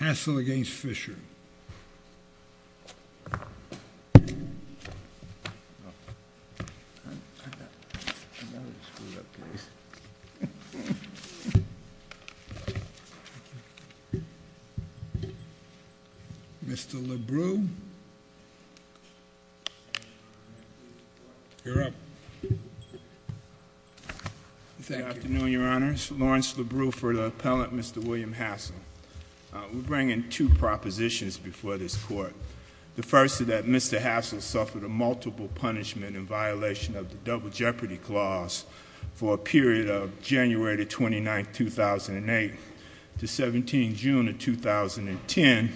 Hassell v. Fischer Mr. LeBreux You're up Good afternoon, your honors. Lawrence LeBreux for the appellant, Mr. William Hassell We bring in two propositions before this court The first is that Mr. Hassell suffered a multiple punishment in violation of the Double Jeopardy Clause for a period of January 29, 2008 to 17 June 2010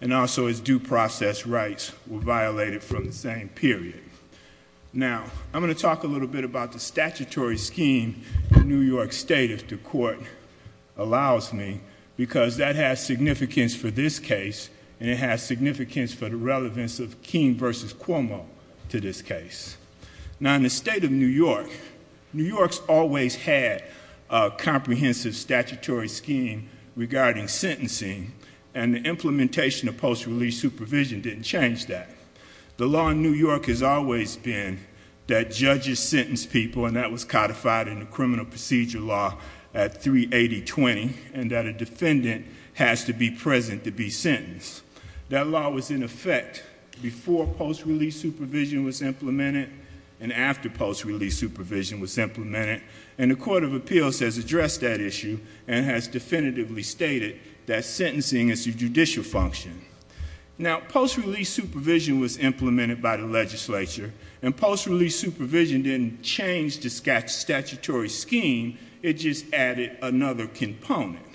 and also his due process rights were violated from the same period Now, I'm going to talk a little bit about the statutory scheme in New York State if the court allows me because that has significance for this case and it has significance for the relevance of Keene v. Cuomo to this case Now in the state of New York, New York's always had a comprehensive statutory scheme regarding sentencing and the implementation of post-release supervision didn't change that The law in New York has always been that judges sentence people and that was codified in the criminal procedure law at 380-20 and that a defendant has to be present to be sentenced That law was in effect before post-release supervision was implemented and after post-release supervision was implemented and the Court of Appeals has addressed that issue and has definitively stated that sentencing is a judicial function Now, post-release supervision was implemented by the legislature and post-release supervision didn't change the statutory scheme It just added another component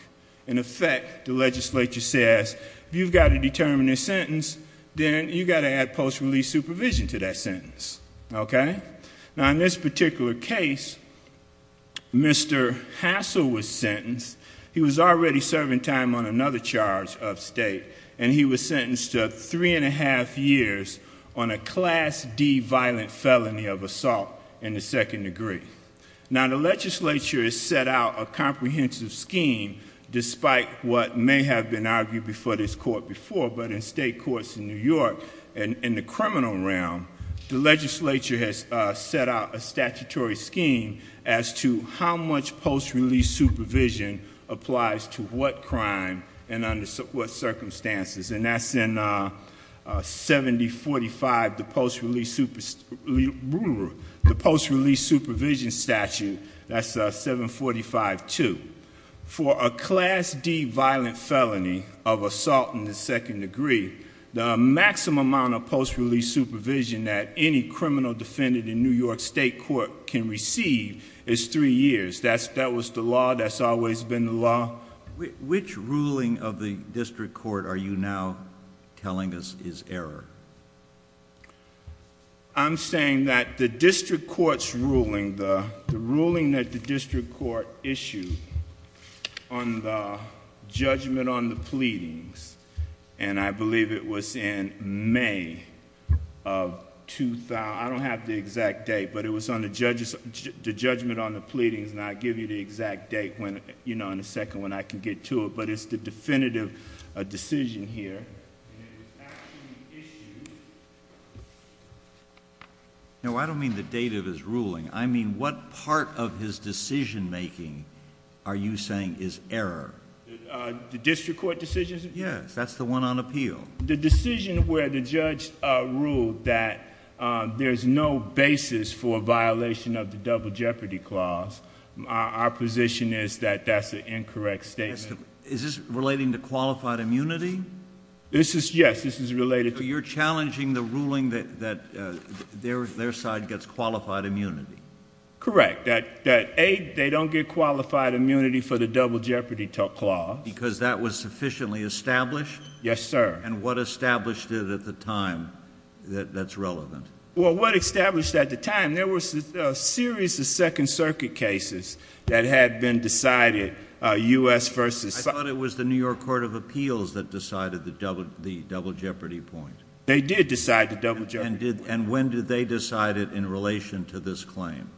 In effect, the legislature says, if you've got to determine a sentence, then you've got to add post-release supervision to that sentence Now in this particular case, Mr. Hassell was sentenced He was already serving time on another charge of state and he was sentenced to three and a half years on a Class D violent felony of assault in the second degree Now the legislature has set out a comprehensive scheme despite what may have been argued before this court before but in state courts in New York, in the criminal realm, the legislature has set out a statutory scheme as to how much post-release supervision applies to what crime and under what circumstances and that's in 7045, the post-release supervision statute, that's 745-2 For a Class D violent felony of assault in the second degree, the maximum amount of post-release supervision that any criminal defendant in New York State Court can receive is three years That was the law, that's always been the law Which ruling of the district court are you now telling us is error? I'm saying that the district court's ruling, the ruling that the district court issued on the judgment on the pleadings and I believe it was in May of 2000, I don't have the exact date but it was on the judgment on the pleadings and I'll give you the exact date in a second when I can get to it but it's the definitive decision here and it was actually issued No, I don't mean the date of his ruling, I mean what part of his decision making are you saying is error? The district court decision? Yes, that's the one on appeal The decision where the judge ruled that there's no basis for a violation of the double jeopardy clause Our position is that that's an incorrect statement Is this relating to qualified immunity? Yes, this is related to So you're challenging the ruling that their side gets qualified immunity Correct, that they don't get qualified immunity for the double jeopardy clause Because that was sufficiently established? Yes, sir And what established it at the time that's relevant? Well, what established at the time, there was a series of second circuit cases that had been decided, U.S. versus I thought it was the New York Court of Appeals that decided the double jeopardy point They did decide the double jeopardy point And when did they decide it in relation to this claim?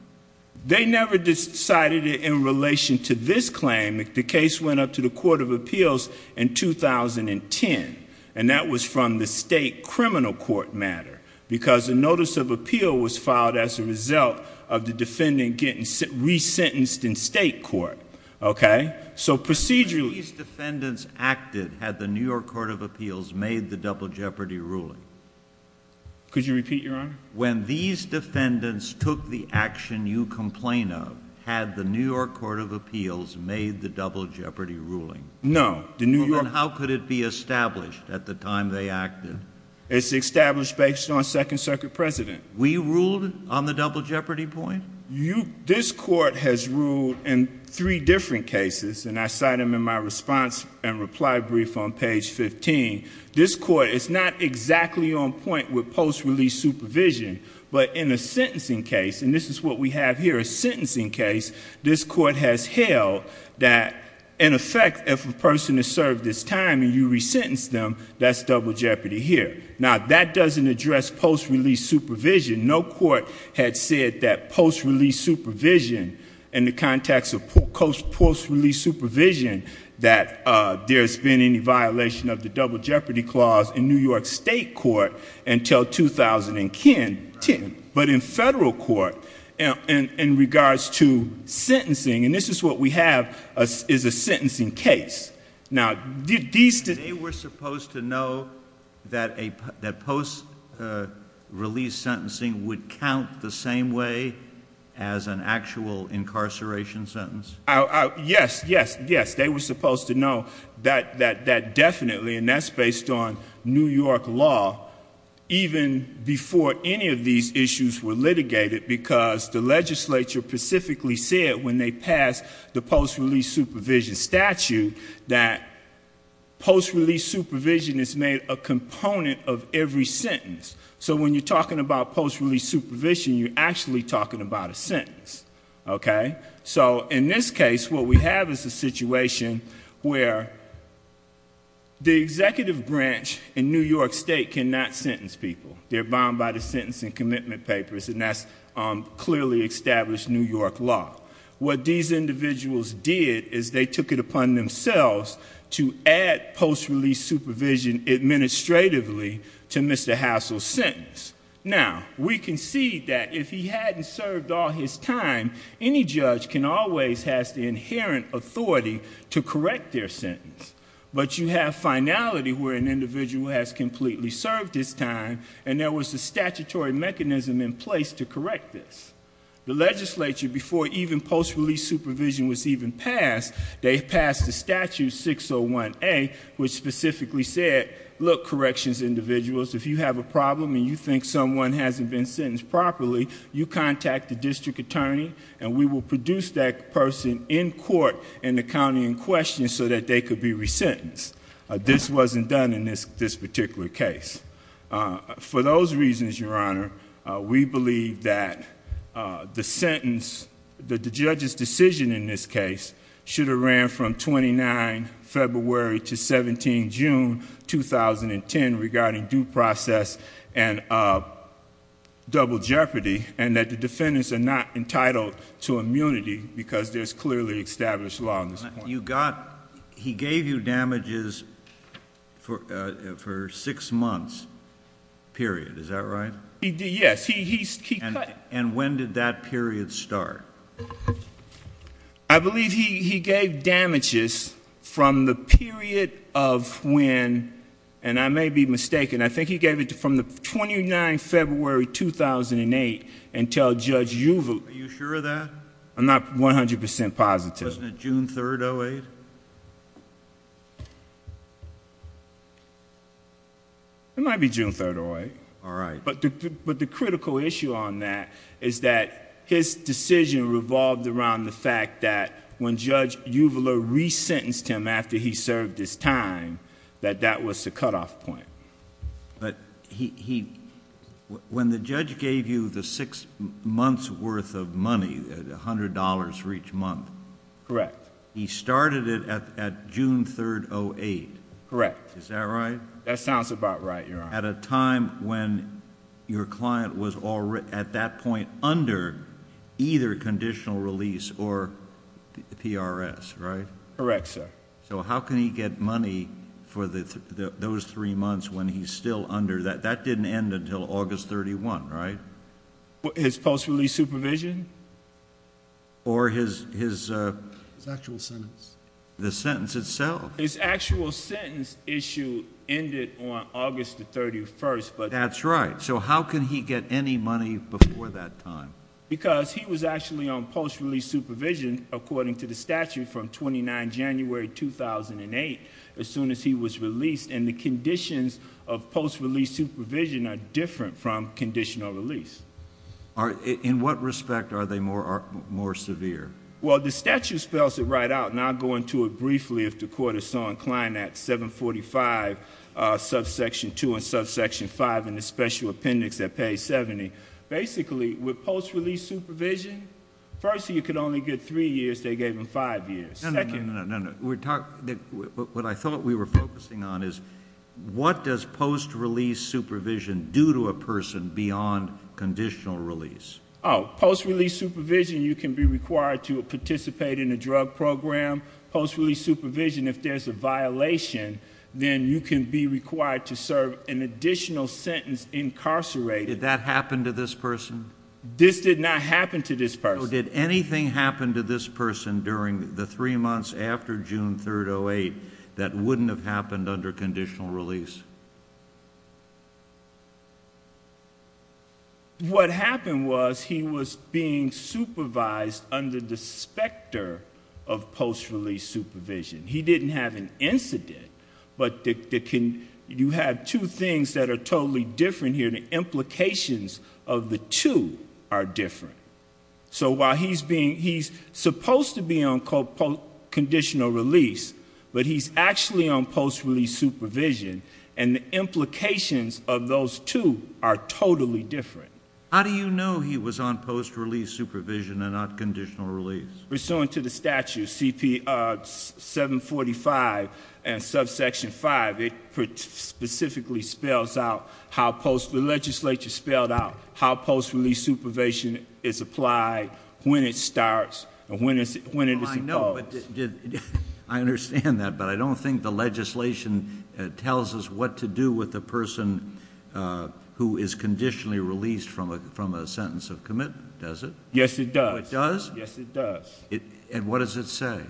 They never decided it in relation to this claim, the case went up to the Court of Appeals in 2010 And that was from the state criminal court matter Because a notice of appeal was filed as a result of the defendant getting re-sentenced in state court Okay, so procedurally When these defendants acted, had the New York Court of Appeals made the double jeopardy ruling? Could you repeat, Your Honor? When these defendants took the action you complain of, had the New York Court of Appeals made the double jeopardy ruling? No Then how could it be established at the time they acted? It's established based on second circuit precedent We ruled on the double jeopardy point? This court has ruled in three different cases And I cite them in my response and reply brief on page 15 This court is not exactly on point with post-release supervision But in a sentencing case, and this is what we have here, a sentencing case This court has held that, in effect, if a person is served this time and you re-sentence them, that's double jeopardy here Now, that doesn't address post-release supervision No court had said that post-release supervision, in the context of post-release supervision That there's been any violation of the double jeopardy clause in New York state court until 2010 But in federal court, in regards to sentencing, and this is what we have, is a sentencing case They were supposed to know that post-release sentencing would count the same way as an actual incarceration sentence? Yes, yes, yes, they were supposed to know that definitely, and that's based on New York law Even before any of these issues were litigated Because the legislature specifically said when they passed the post-release supervision statute That post-release supervision is made a component of every sentence So when you're talking about post-release supervision, you're actually talking about a sentence So in this case, what we have is a situation where the executive branch in New York state cannot sentence people They're bound by the sentencing commitment papers, and that's clearly established New York law What these individuals did is they took it upon themselves to add post-release supervision administratively to Mr. Hassel's sentence Now, we can see that if he hadn't served all his time, any judge can always have the inherent authority to correct their sentence But you have finality where an individual has completely served his time, and there was a statutory mechanism in place to correct this The legislature, before even post-release supervision was even passed, they passed the statute 601A Which specifically said, look, corrections individuals, if you have a problem and you think someone hasn't been sentenced properly You contact the district attorney, and we will produce that person in court in the county in question so that they could be resentenced This wasn't done in this particular case For those reasons, Your Honor, we believe that the sentence, the judge's decision in this case Should have ran from 29 February to 17 June 2010 regarding due process and double jeopardy And that the defendants are not entitled to immunity because there's clearly established law on this point He gave you damages for six months, period, is that right? Yes, he cut And when did that period start? I believe he gave damages from the period of when, and I may be mistaken I think he gave it from the 29 February 2008 until Judge Yuval Are you sure of that? I'm not 100% positive Wasn't it June 3rd, 2008? It might be June 3rd, 2008 All right But the critical issue on that is that his decision revolved around the fact that When Judge Yuval resentenced him after he served his time, that that was the cutoff point But when the judge gave you the six months worth of money, $100 for each month Correct He started it at June 3rd, 2008 Is that right? That sounds about right, Your Honor At a time when your client was at that point under either conditional release or PRS, right? Correct, sir So how can he get money for those three months when he's still under that? That didn't end until August 31, right? His post-release supervision? Or his His actual sentence The sentence itself His actual sentence issue ended on August 31, but That's right So how can he get any money before that time? Because he was actually on post-release supervision according to the statute from 29 January 2008 As soon as he was released And the conditions of post-release supervision are different from conditional release In what respect are they more severe? Well, the statute spells it right out, and I'll go into it briefly if the Court is so inclined At 745, subsection 2 and subsection 5 in the special appendix at page 70 Basically, with post-release supervision, first you could only get three years, they gave him five years No, no, no, no, no, no We're talking What I thought we were focusing on is What does post-release supervision do to a person beyond conditional release? Oh, post-release supervision, you can be required to participate in a drug program Post-release supervision, if there's a violation, then you can be required to serve an additional sentence incarcerated Did that happen to this person? This did not happen to this person So did anything happen to this person during the three months after June 3, 2008 That wouldn't have happened under conditional release? What happened was he was being supervised under the specter of post-release supervision He didn't have an incident, but you have two things that are totally different here The implications of the two are different So while he's supposed to be on conditional release, but he's actually on post-release supervision And the implications of those two are totally different How do you know he was on post-release supervision and not conditional release? Pursuant to the statute, 745 and subsection 5, it specifically spells out how post-release supervision is applied When it starts and when it is imposed I understand that, but I don't think the legislation tells us what to do with a person who is conditionally released from a sentence of commitment Does it? Yes, it does And what does it say?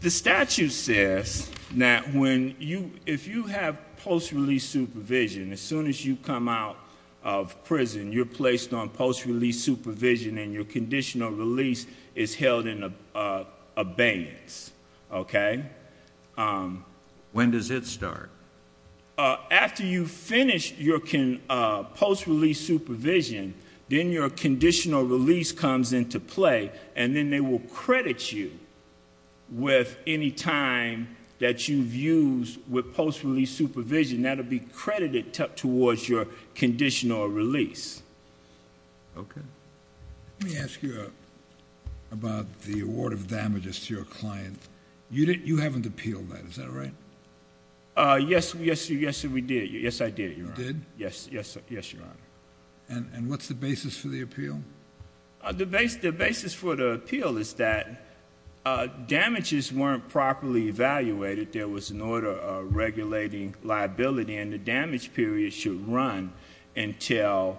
The statute says that if you have post-release supervision, as soon as you come out of prison You're placed on post-release supervision and your conditional release is held in abeyance When does it start? After you finish your post-release supervision, then your conditional release comes into play And then they will credit you with any time that you've used with post-release supervision That will be credited towards your conditional release Okay Let me ask you about the award of damages to your client You haven't appealed that, is that right? Yes, we did You did? Yes, Your Honor And what's the basis for the appeal? The basis for the appeal is that damages weren't properly evaluated There was an order of regulating liability and the damage period should run until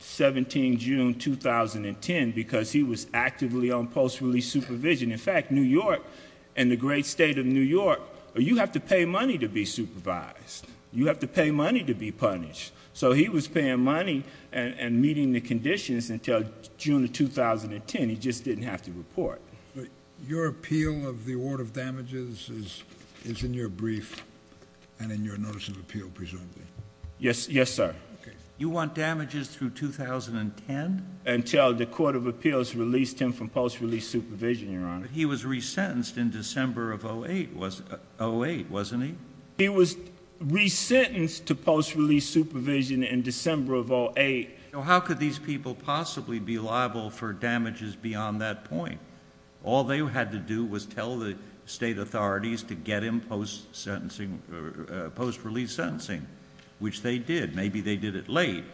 17 June 2010 Because he was actively on post-release supervision In fact, New York and the great state of New York, you have to pay money to be supervised You have to pay money to be punished So he was paying money and meeting the conditions until June 2010 He just didn't have to report Your appeal of the award of damages is in your brief and in your notice of appeal, presumably Yes, sir You want damages through 2010? Until the Court of Appeals released him from post-release supervision, Your Honor He was resentenced in December of 2008, wasn't he? He was resentenced to post-release supervision in December of 2008 How could these people possibly be liable for damages beyond that point? All they had to do was tell the state authorities to get him post-release sentencing Which they did, maybe they did it late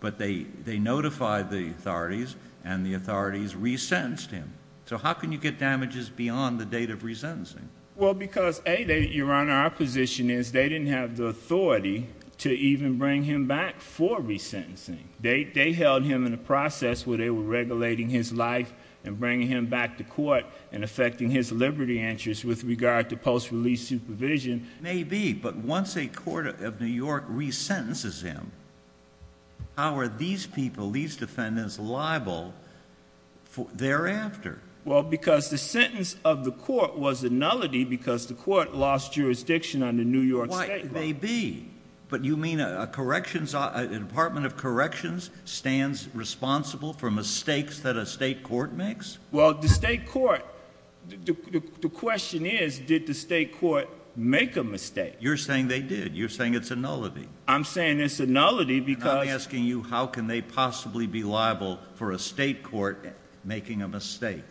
But they notified the authorities and the authorities resentenced him So how can you get damages beyond the date of resentencing? Well, because A, Your Honor, our position is they didn't have the authority to even bring him back for resentencing They held him in a process where they were regulating his life and bringing him back to court And affecting his liberty interests with regard to post-release supervision Maybe, but once a court of New York resentences him, how are these people, these defendants liable thereafter? Well, because the sentence of the court was a nullity because the court lost jurisdiction under New York State Why, maybe, but you mean a corrections, a Department of Corrections stands responsible for mistakes that a state court makes? Well, the state court, the question is, did the state court make a mistake? You're saying they did, you're saying it's a nullity I'm saying it's a nullity because I'm asking you, how can they possibly be liable for a state court making a mistake?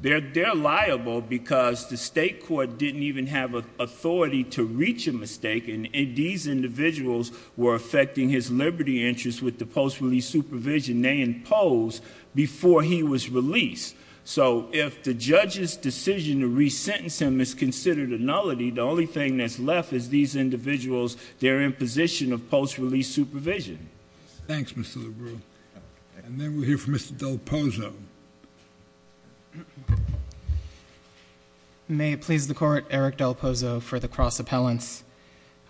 They're liable because the state court didn't even have authority to reach a mistake And these individuals were affecting his liberty interests with the post-release supervision they imposed before he was released So if the judge's decision to resentence him is considered a nullity The only thing that's left is these individuals, their imposition of post-release supervision Thanks, Mr. Lebreu And then we'll hear from Mr. Del Pozo May it please the court, Eric Del Pozo for the cross-appellants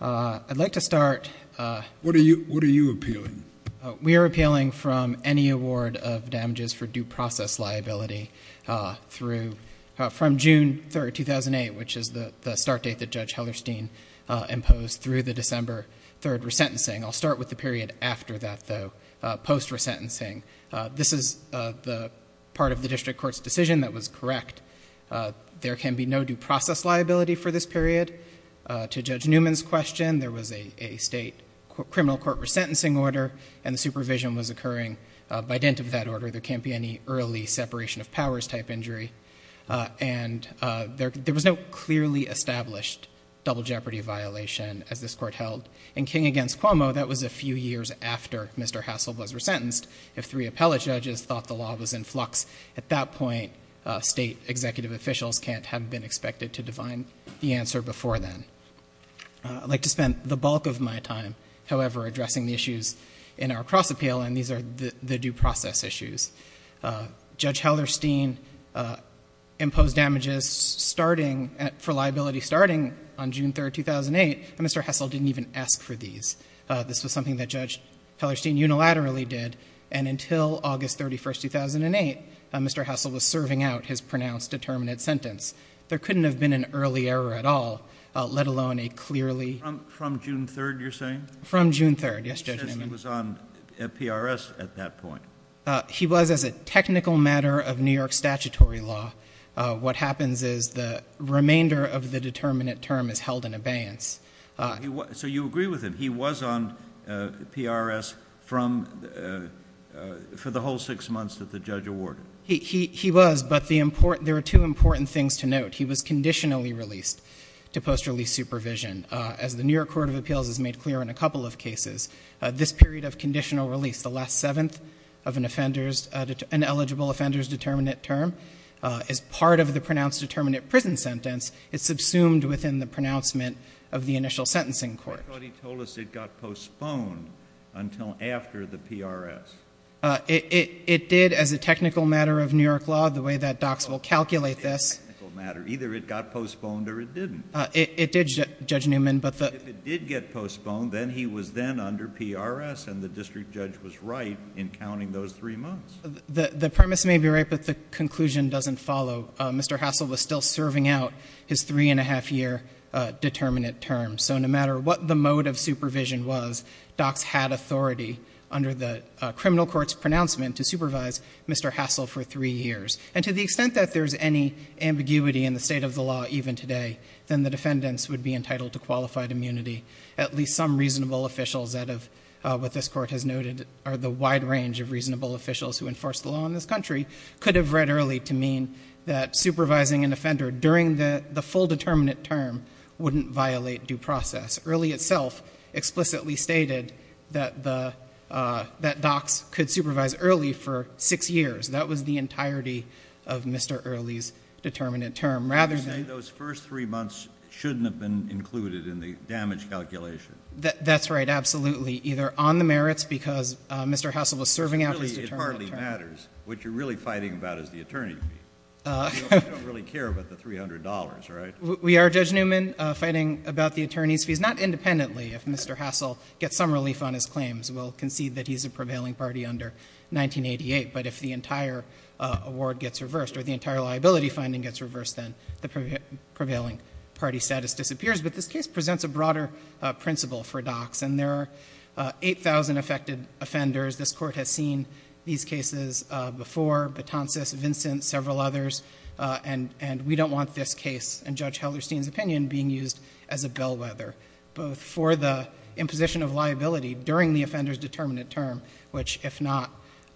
I'd like to start What are you appealing? We are appealing from any award of damages for due process liability From June 3rd, 2008, which is the start date that Judge Hellerstein imposed Through the December 3rd resentencing I'll start with the period after that, though Post-resentencing This is the part of the district court's decision that was correct There can be no due process liability for this period To Judge Newman's question, there was a state criminal court resentencing order And the supervision was occurring by dint of that order There can't be any early separation of powers type injury And there was no clearly established double jeopardy violation as this court held In King v. Cuomo, that was a few years after Mr. Hassel was resentenced If three appellate judges thought the law was in flux At that point, state executive officials can't have been expected to define the answer before then I'd like to spend the bulk of my time, however, addressing the issues in our cross-appeal And these are the due process issues Judge Hellerstein imposed damages for liability starting on June 3rd, 2008 And Mr. Hassel didn't even ask for these This was something that Judge Hellerstein unilaterally did And until August 31st, 2008, Mr. Hassel was serving out his pronounced determinate sentence There couldn't have been an early error at all, let alone a clearly From June 3rd, you're saying? From June 3rd, yes, Judge Newman He was on PRS at that point He was as a technical matter of New York statutory law What happens is the remainder of the determinate term is held in abeyance So you agree with him, he was on PRS for the whole six months that the judge awarded He was, but there are two important things to note He was conditionally released to post-release supervision As the New York Court of Appeals has made clear in a couple of cases This period of conditional release, the last seventh of an eligible offender's determinate term Is part of the pronounced determinate prison sentence It's subsumed within the pronouncement of the initial sentencing court I thought he told us it got postponed until after the PRS It did as a technical matter of New York law, the way that docs will calculate this Either it got postponed or it didn't It did, Judge Newman, but the But if it did get postponed, then he was then under PRS And the district judge was right in counting those three months The premise may be right, but the conclusion doesn't follow Mr. Hassel was still serving out his three and a half year determinate term So no matter what the mode of supervision was Docs had authority under the criminal court's pronouncement to supervise Mr. Hassel for three years And to the extent that there's any ambiguity in the state of the law even today Then the defendants would be entitled to qualified immunity At least some reasonable officials that have, what this court has noted Are the wide range of reasonable officials who enforce the law in this country Could have read early to mean that supervising an offender during the full determinate term Wouldn't violate due process Early itself explicitly stated that docs could supervise early for six years That was the entirety of Mr. Early's determinate term You're saying those first three months shouldn't have been included in the damage calculation That's right, absolutely Either on the merits because Mr. Hassel was serving out his determinate term It hardly matters What you're really fighting about is the attorney fee You don't really care about the $300, right? We are, Judge Newman, fighting about the attorney's fees Not independently if Mr. Hassel gets some relief on his claims We'll concede that he's a prevailing party under 1988 But if the entire award gets reversed or the entire liability finding gets reversed Then the prevailing party status disappears But this case presents a broader principle for docs And there are 8,000 affected offenders This court has seen these cases before Batances, Vincent, several others And we don't want this case, in Judge Hellerstein's opinion, being used as a bellwether Both for the imposition of liability during the offender's determinate term Which, if not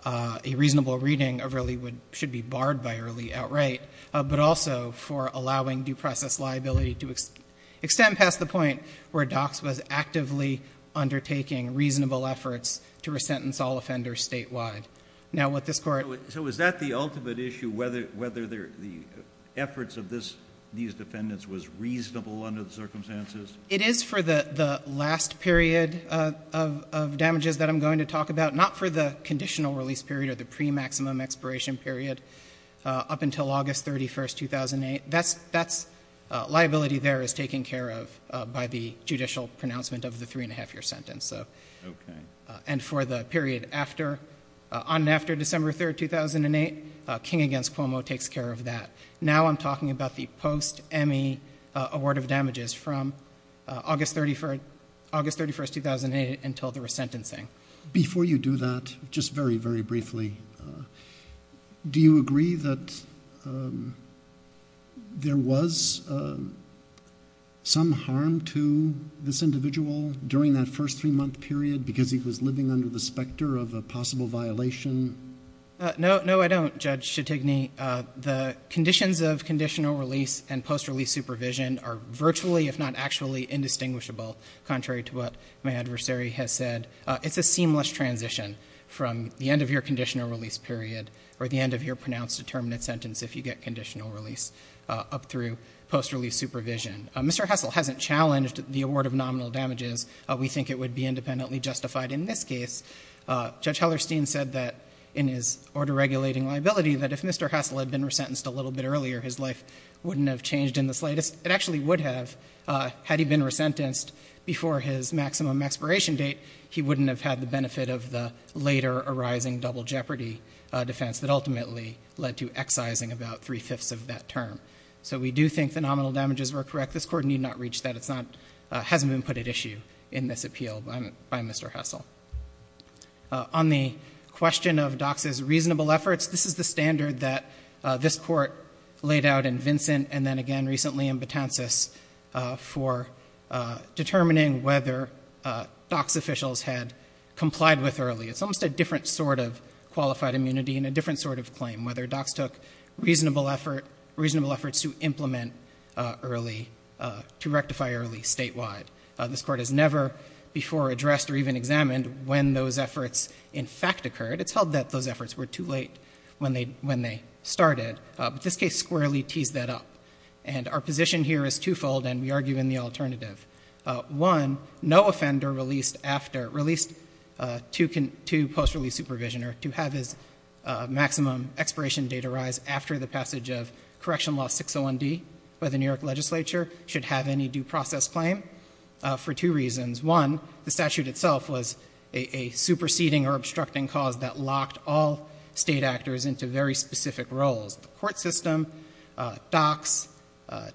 a reasonable reading, really should be barred by early outright But also for allowing due process liability to extend past the point Where docs was actively undertaking reasonable efforts to resentence all offenders statewide So is that the ultimate issue? Whether the efforts of these defendants was reasonable under the circumstances? It is for the last period of damages that I'm going to talk about Not for the conditional release period or the pre-maximum expiration period Up until August 31st, 2008 Liability there is taken care of by the judicial pronouncement of the three and a half year sentence And for the period on and after December 3rd, 2008 King v. Cuomo takes care of that Now I'm talking about the post-Emmy award of damages From August 31st, 2008 until the resentencing Before you do that, just very, very briefly Do you agree that there was some harm to this individual During that first three month period Because he was living under the specter of a possible violation? No, I don't, Judge Shetigny The conditions of conditional release and post-release supervision Are virtually, if not actually, indistinguishable Contrary to what my adversary has said It's a seamless transition from the end of your conditional release period Or the end of your pronounced determinate sentence If you get conditional release up through post-release supervision Mr. Hessel hasn't challenged the award of nominal damages We think it would be independently justified in this case Judge Hellerstein said that in his order regulating liability That if Mr. Hessel had been resentenced a little bit earlier His life wouldn't have changed in the slightest It actually would have Had he been resentenced before his maximum expiration date He wouldn't have had the benefit of the later arising double jeopardy defense That ultimately led to excising about three-fifths of that term So we do think the nominal damages were correct This Court need not reach that It hasn't been put at issue in this appeal by Mr. Hessel On the question of Dock's reasonable efforts This is the standard that this Court laid out in Vincent And then again recently in Batances For determining whether Dock's officials had complied with early It's almost a different sort of qualified immunity And a different sort of claim Whether Dock's took reasonable efforts to implement early To rectify early statewide This Court has never before addressed or even examined When those efforts in fact occurred It's held that those efforts were too late when they started But this case squarely teased that up And our position here is two-fold And we argue in the alternative One, no offender released to post-release supervision Or to have his maximum expiration date arise After the passage of Correction Law 601D By the New York Legislature Should have any due process claim For two reasons One, the statute itself was a superseding or obstructing cause That locked all state actors into very specific roles The court system, Dock's,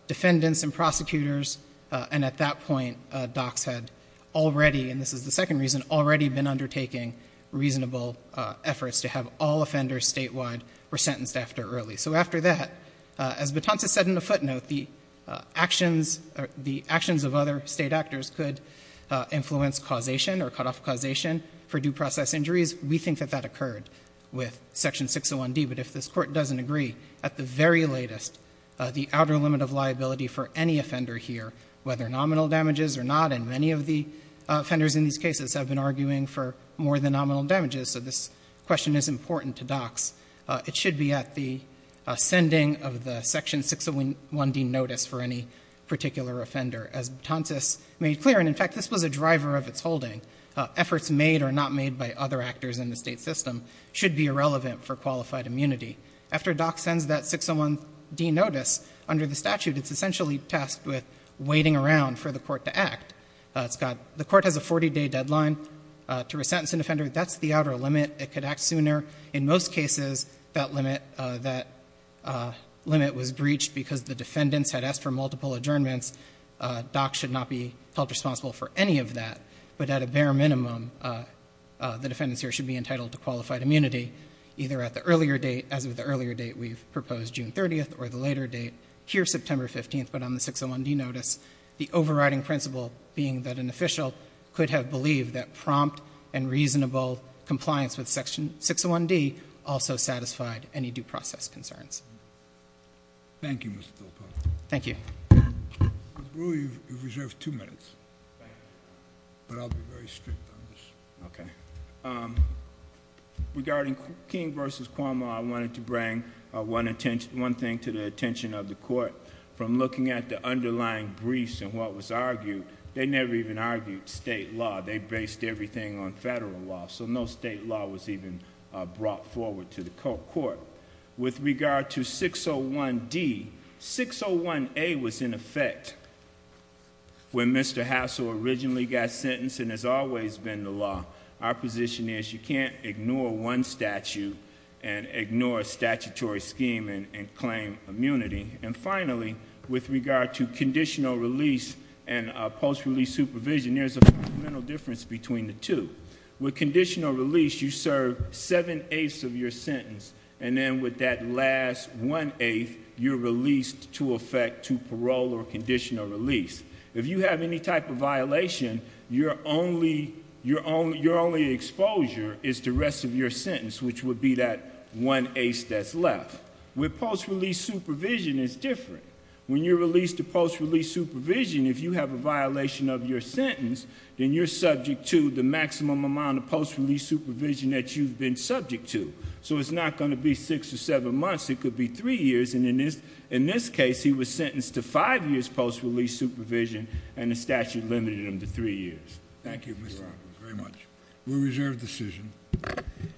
defendants and prosecutors And at that point Dock's had already And this is the second reason Already been undertaking reasonable efforts To have all offenders statewide were sentenced after early So after that, as Batances said in the footnote The actions of other state actors could influence causation Or cut off causation for due process injuries We think that that occurred with Section 601D But if this court doesn't agree At the very latest The outer limit of liability for any offender here Whether nominal damages or not And many of the offenders in these cases Have been arguing for more than nominal damages So this question is important to Dock's It should be at the ascending of the Section 601D notice For any particular offender As Batances made clear And in fact this was a driver of its holding Efforts made or not made by other actors in the state system Should be irrelevant for qualified immunity After Dock's sends that 601D notice Under the statute It's essentially tasked with waiting around for the court to act The court has a 40-day deadline to resentence an offender That's the outer limit It could act sooner In most cases that limit was breached Because the defendants had asked for multiple adjournments Dock's should not be held responsible for any of that But at a bare minimum The defendants here should be entitled to qualified immunity Either at the earlier date As of the earlier date we've proposed June 30th or the later date Here September 15th But on the 601D notice The overriding principle being that an official Could have believed that prompt and reasonable Compliance with Section 601D Also satisfied any due process concerns Thank you Mr. Del Po Thank you Mr. Brewer you've reserved two minutes But I'll be very strict on this Okay Regarding King v. Cuomo I wanted to bring one thing to the attention of the court From looking at the underlying briefs and what was argued They never even argued state law They based everything on federal law So no state law was even brought forward to the court With regard to 601D 601A was in effect When Mr. Hassell originally got sentenced And has always been the law Our position is you can't ignore one statute And ignore a statutory scheme and claim immunity And finally with regard to conditional release And post-release supervision There's a fundamental difference between the two With conditional release you serve seven-eighths of your sentence And then with that last one-eighth You're released to effect to parole or conditional release If you have any type of violation Your only exposure is the rest of your sentence Which would be that one-eighth that's left With post-release supervision it's different When you're released to post-release supervision If you have a violation of your sentence Then you're subject to the maximum amount of post-release supervision That you've been subject to So it's not going to be six or seven months It could be three years And in this case he was sentenced to five years post-release supervision And the statute limited him to three years Thank you Mr. Roberts very much We reserve the decision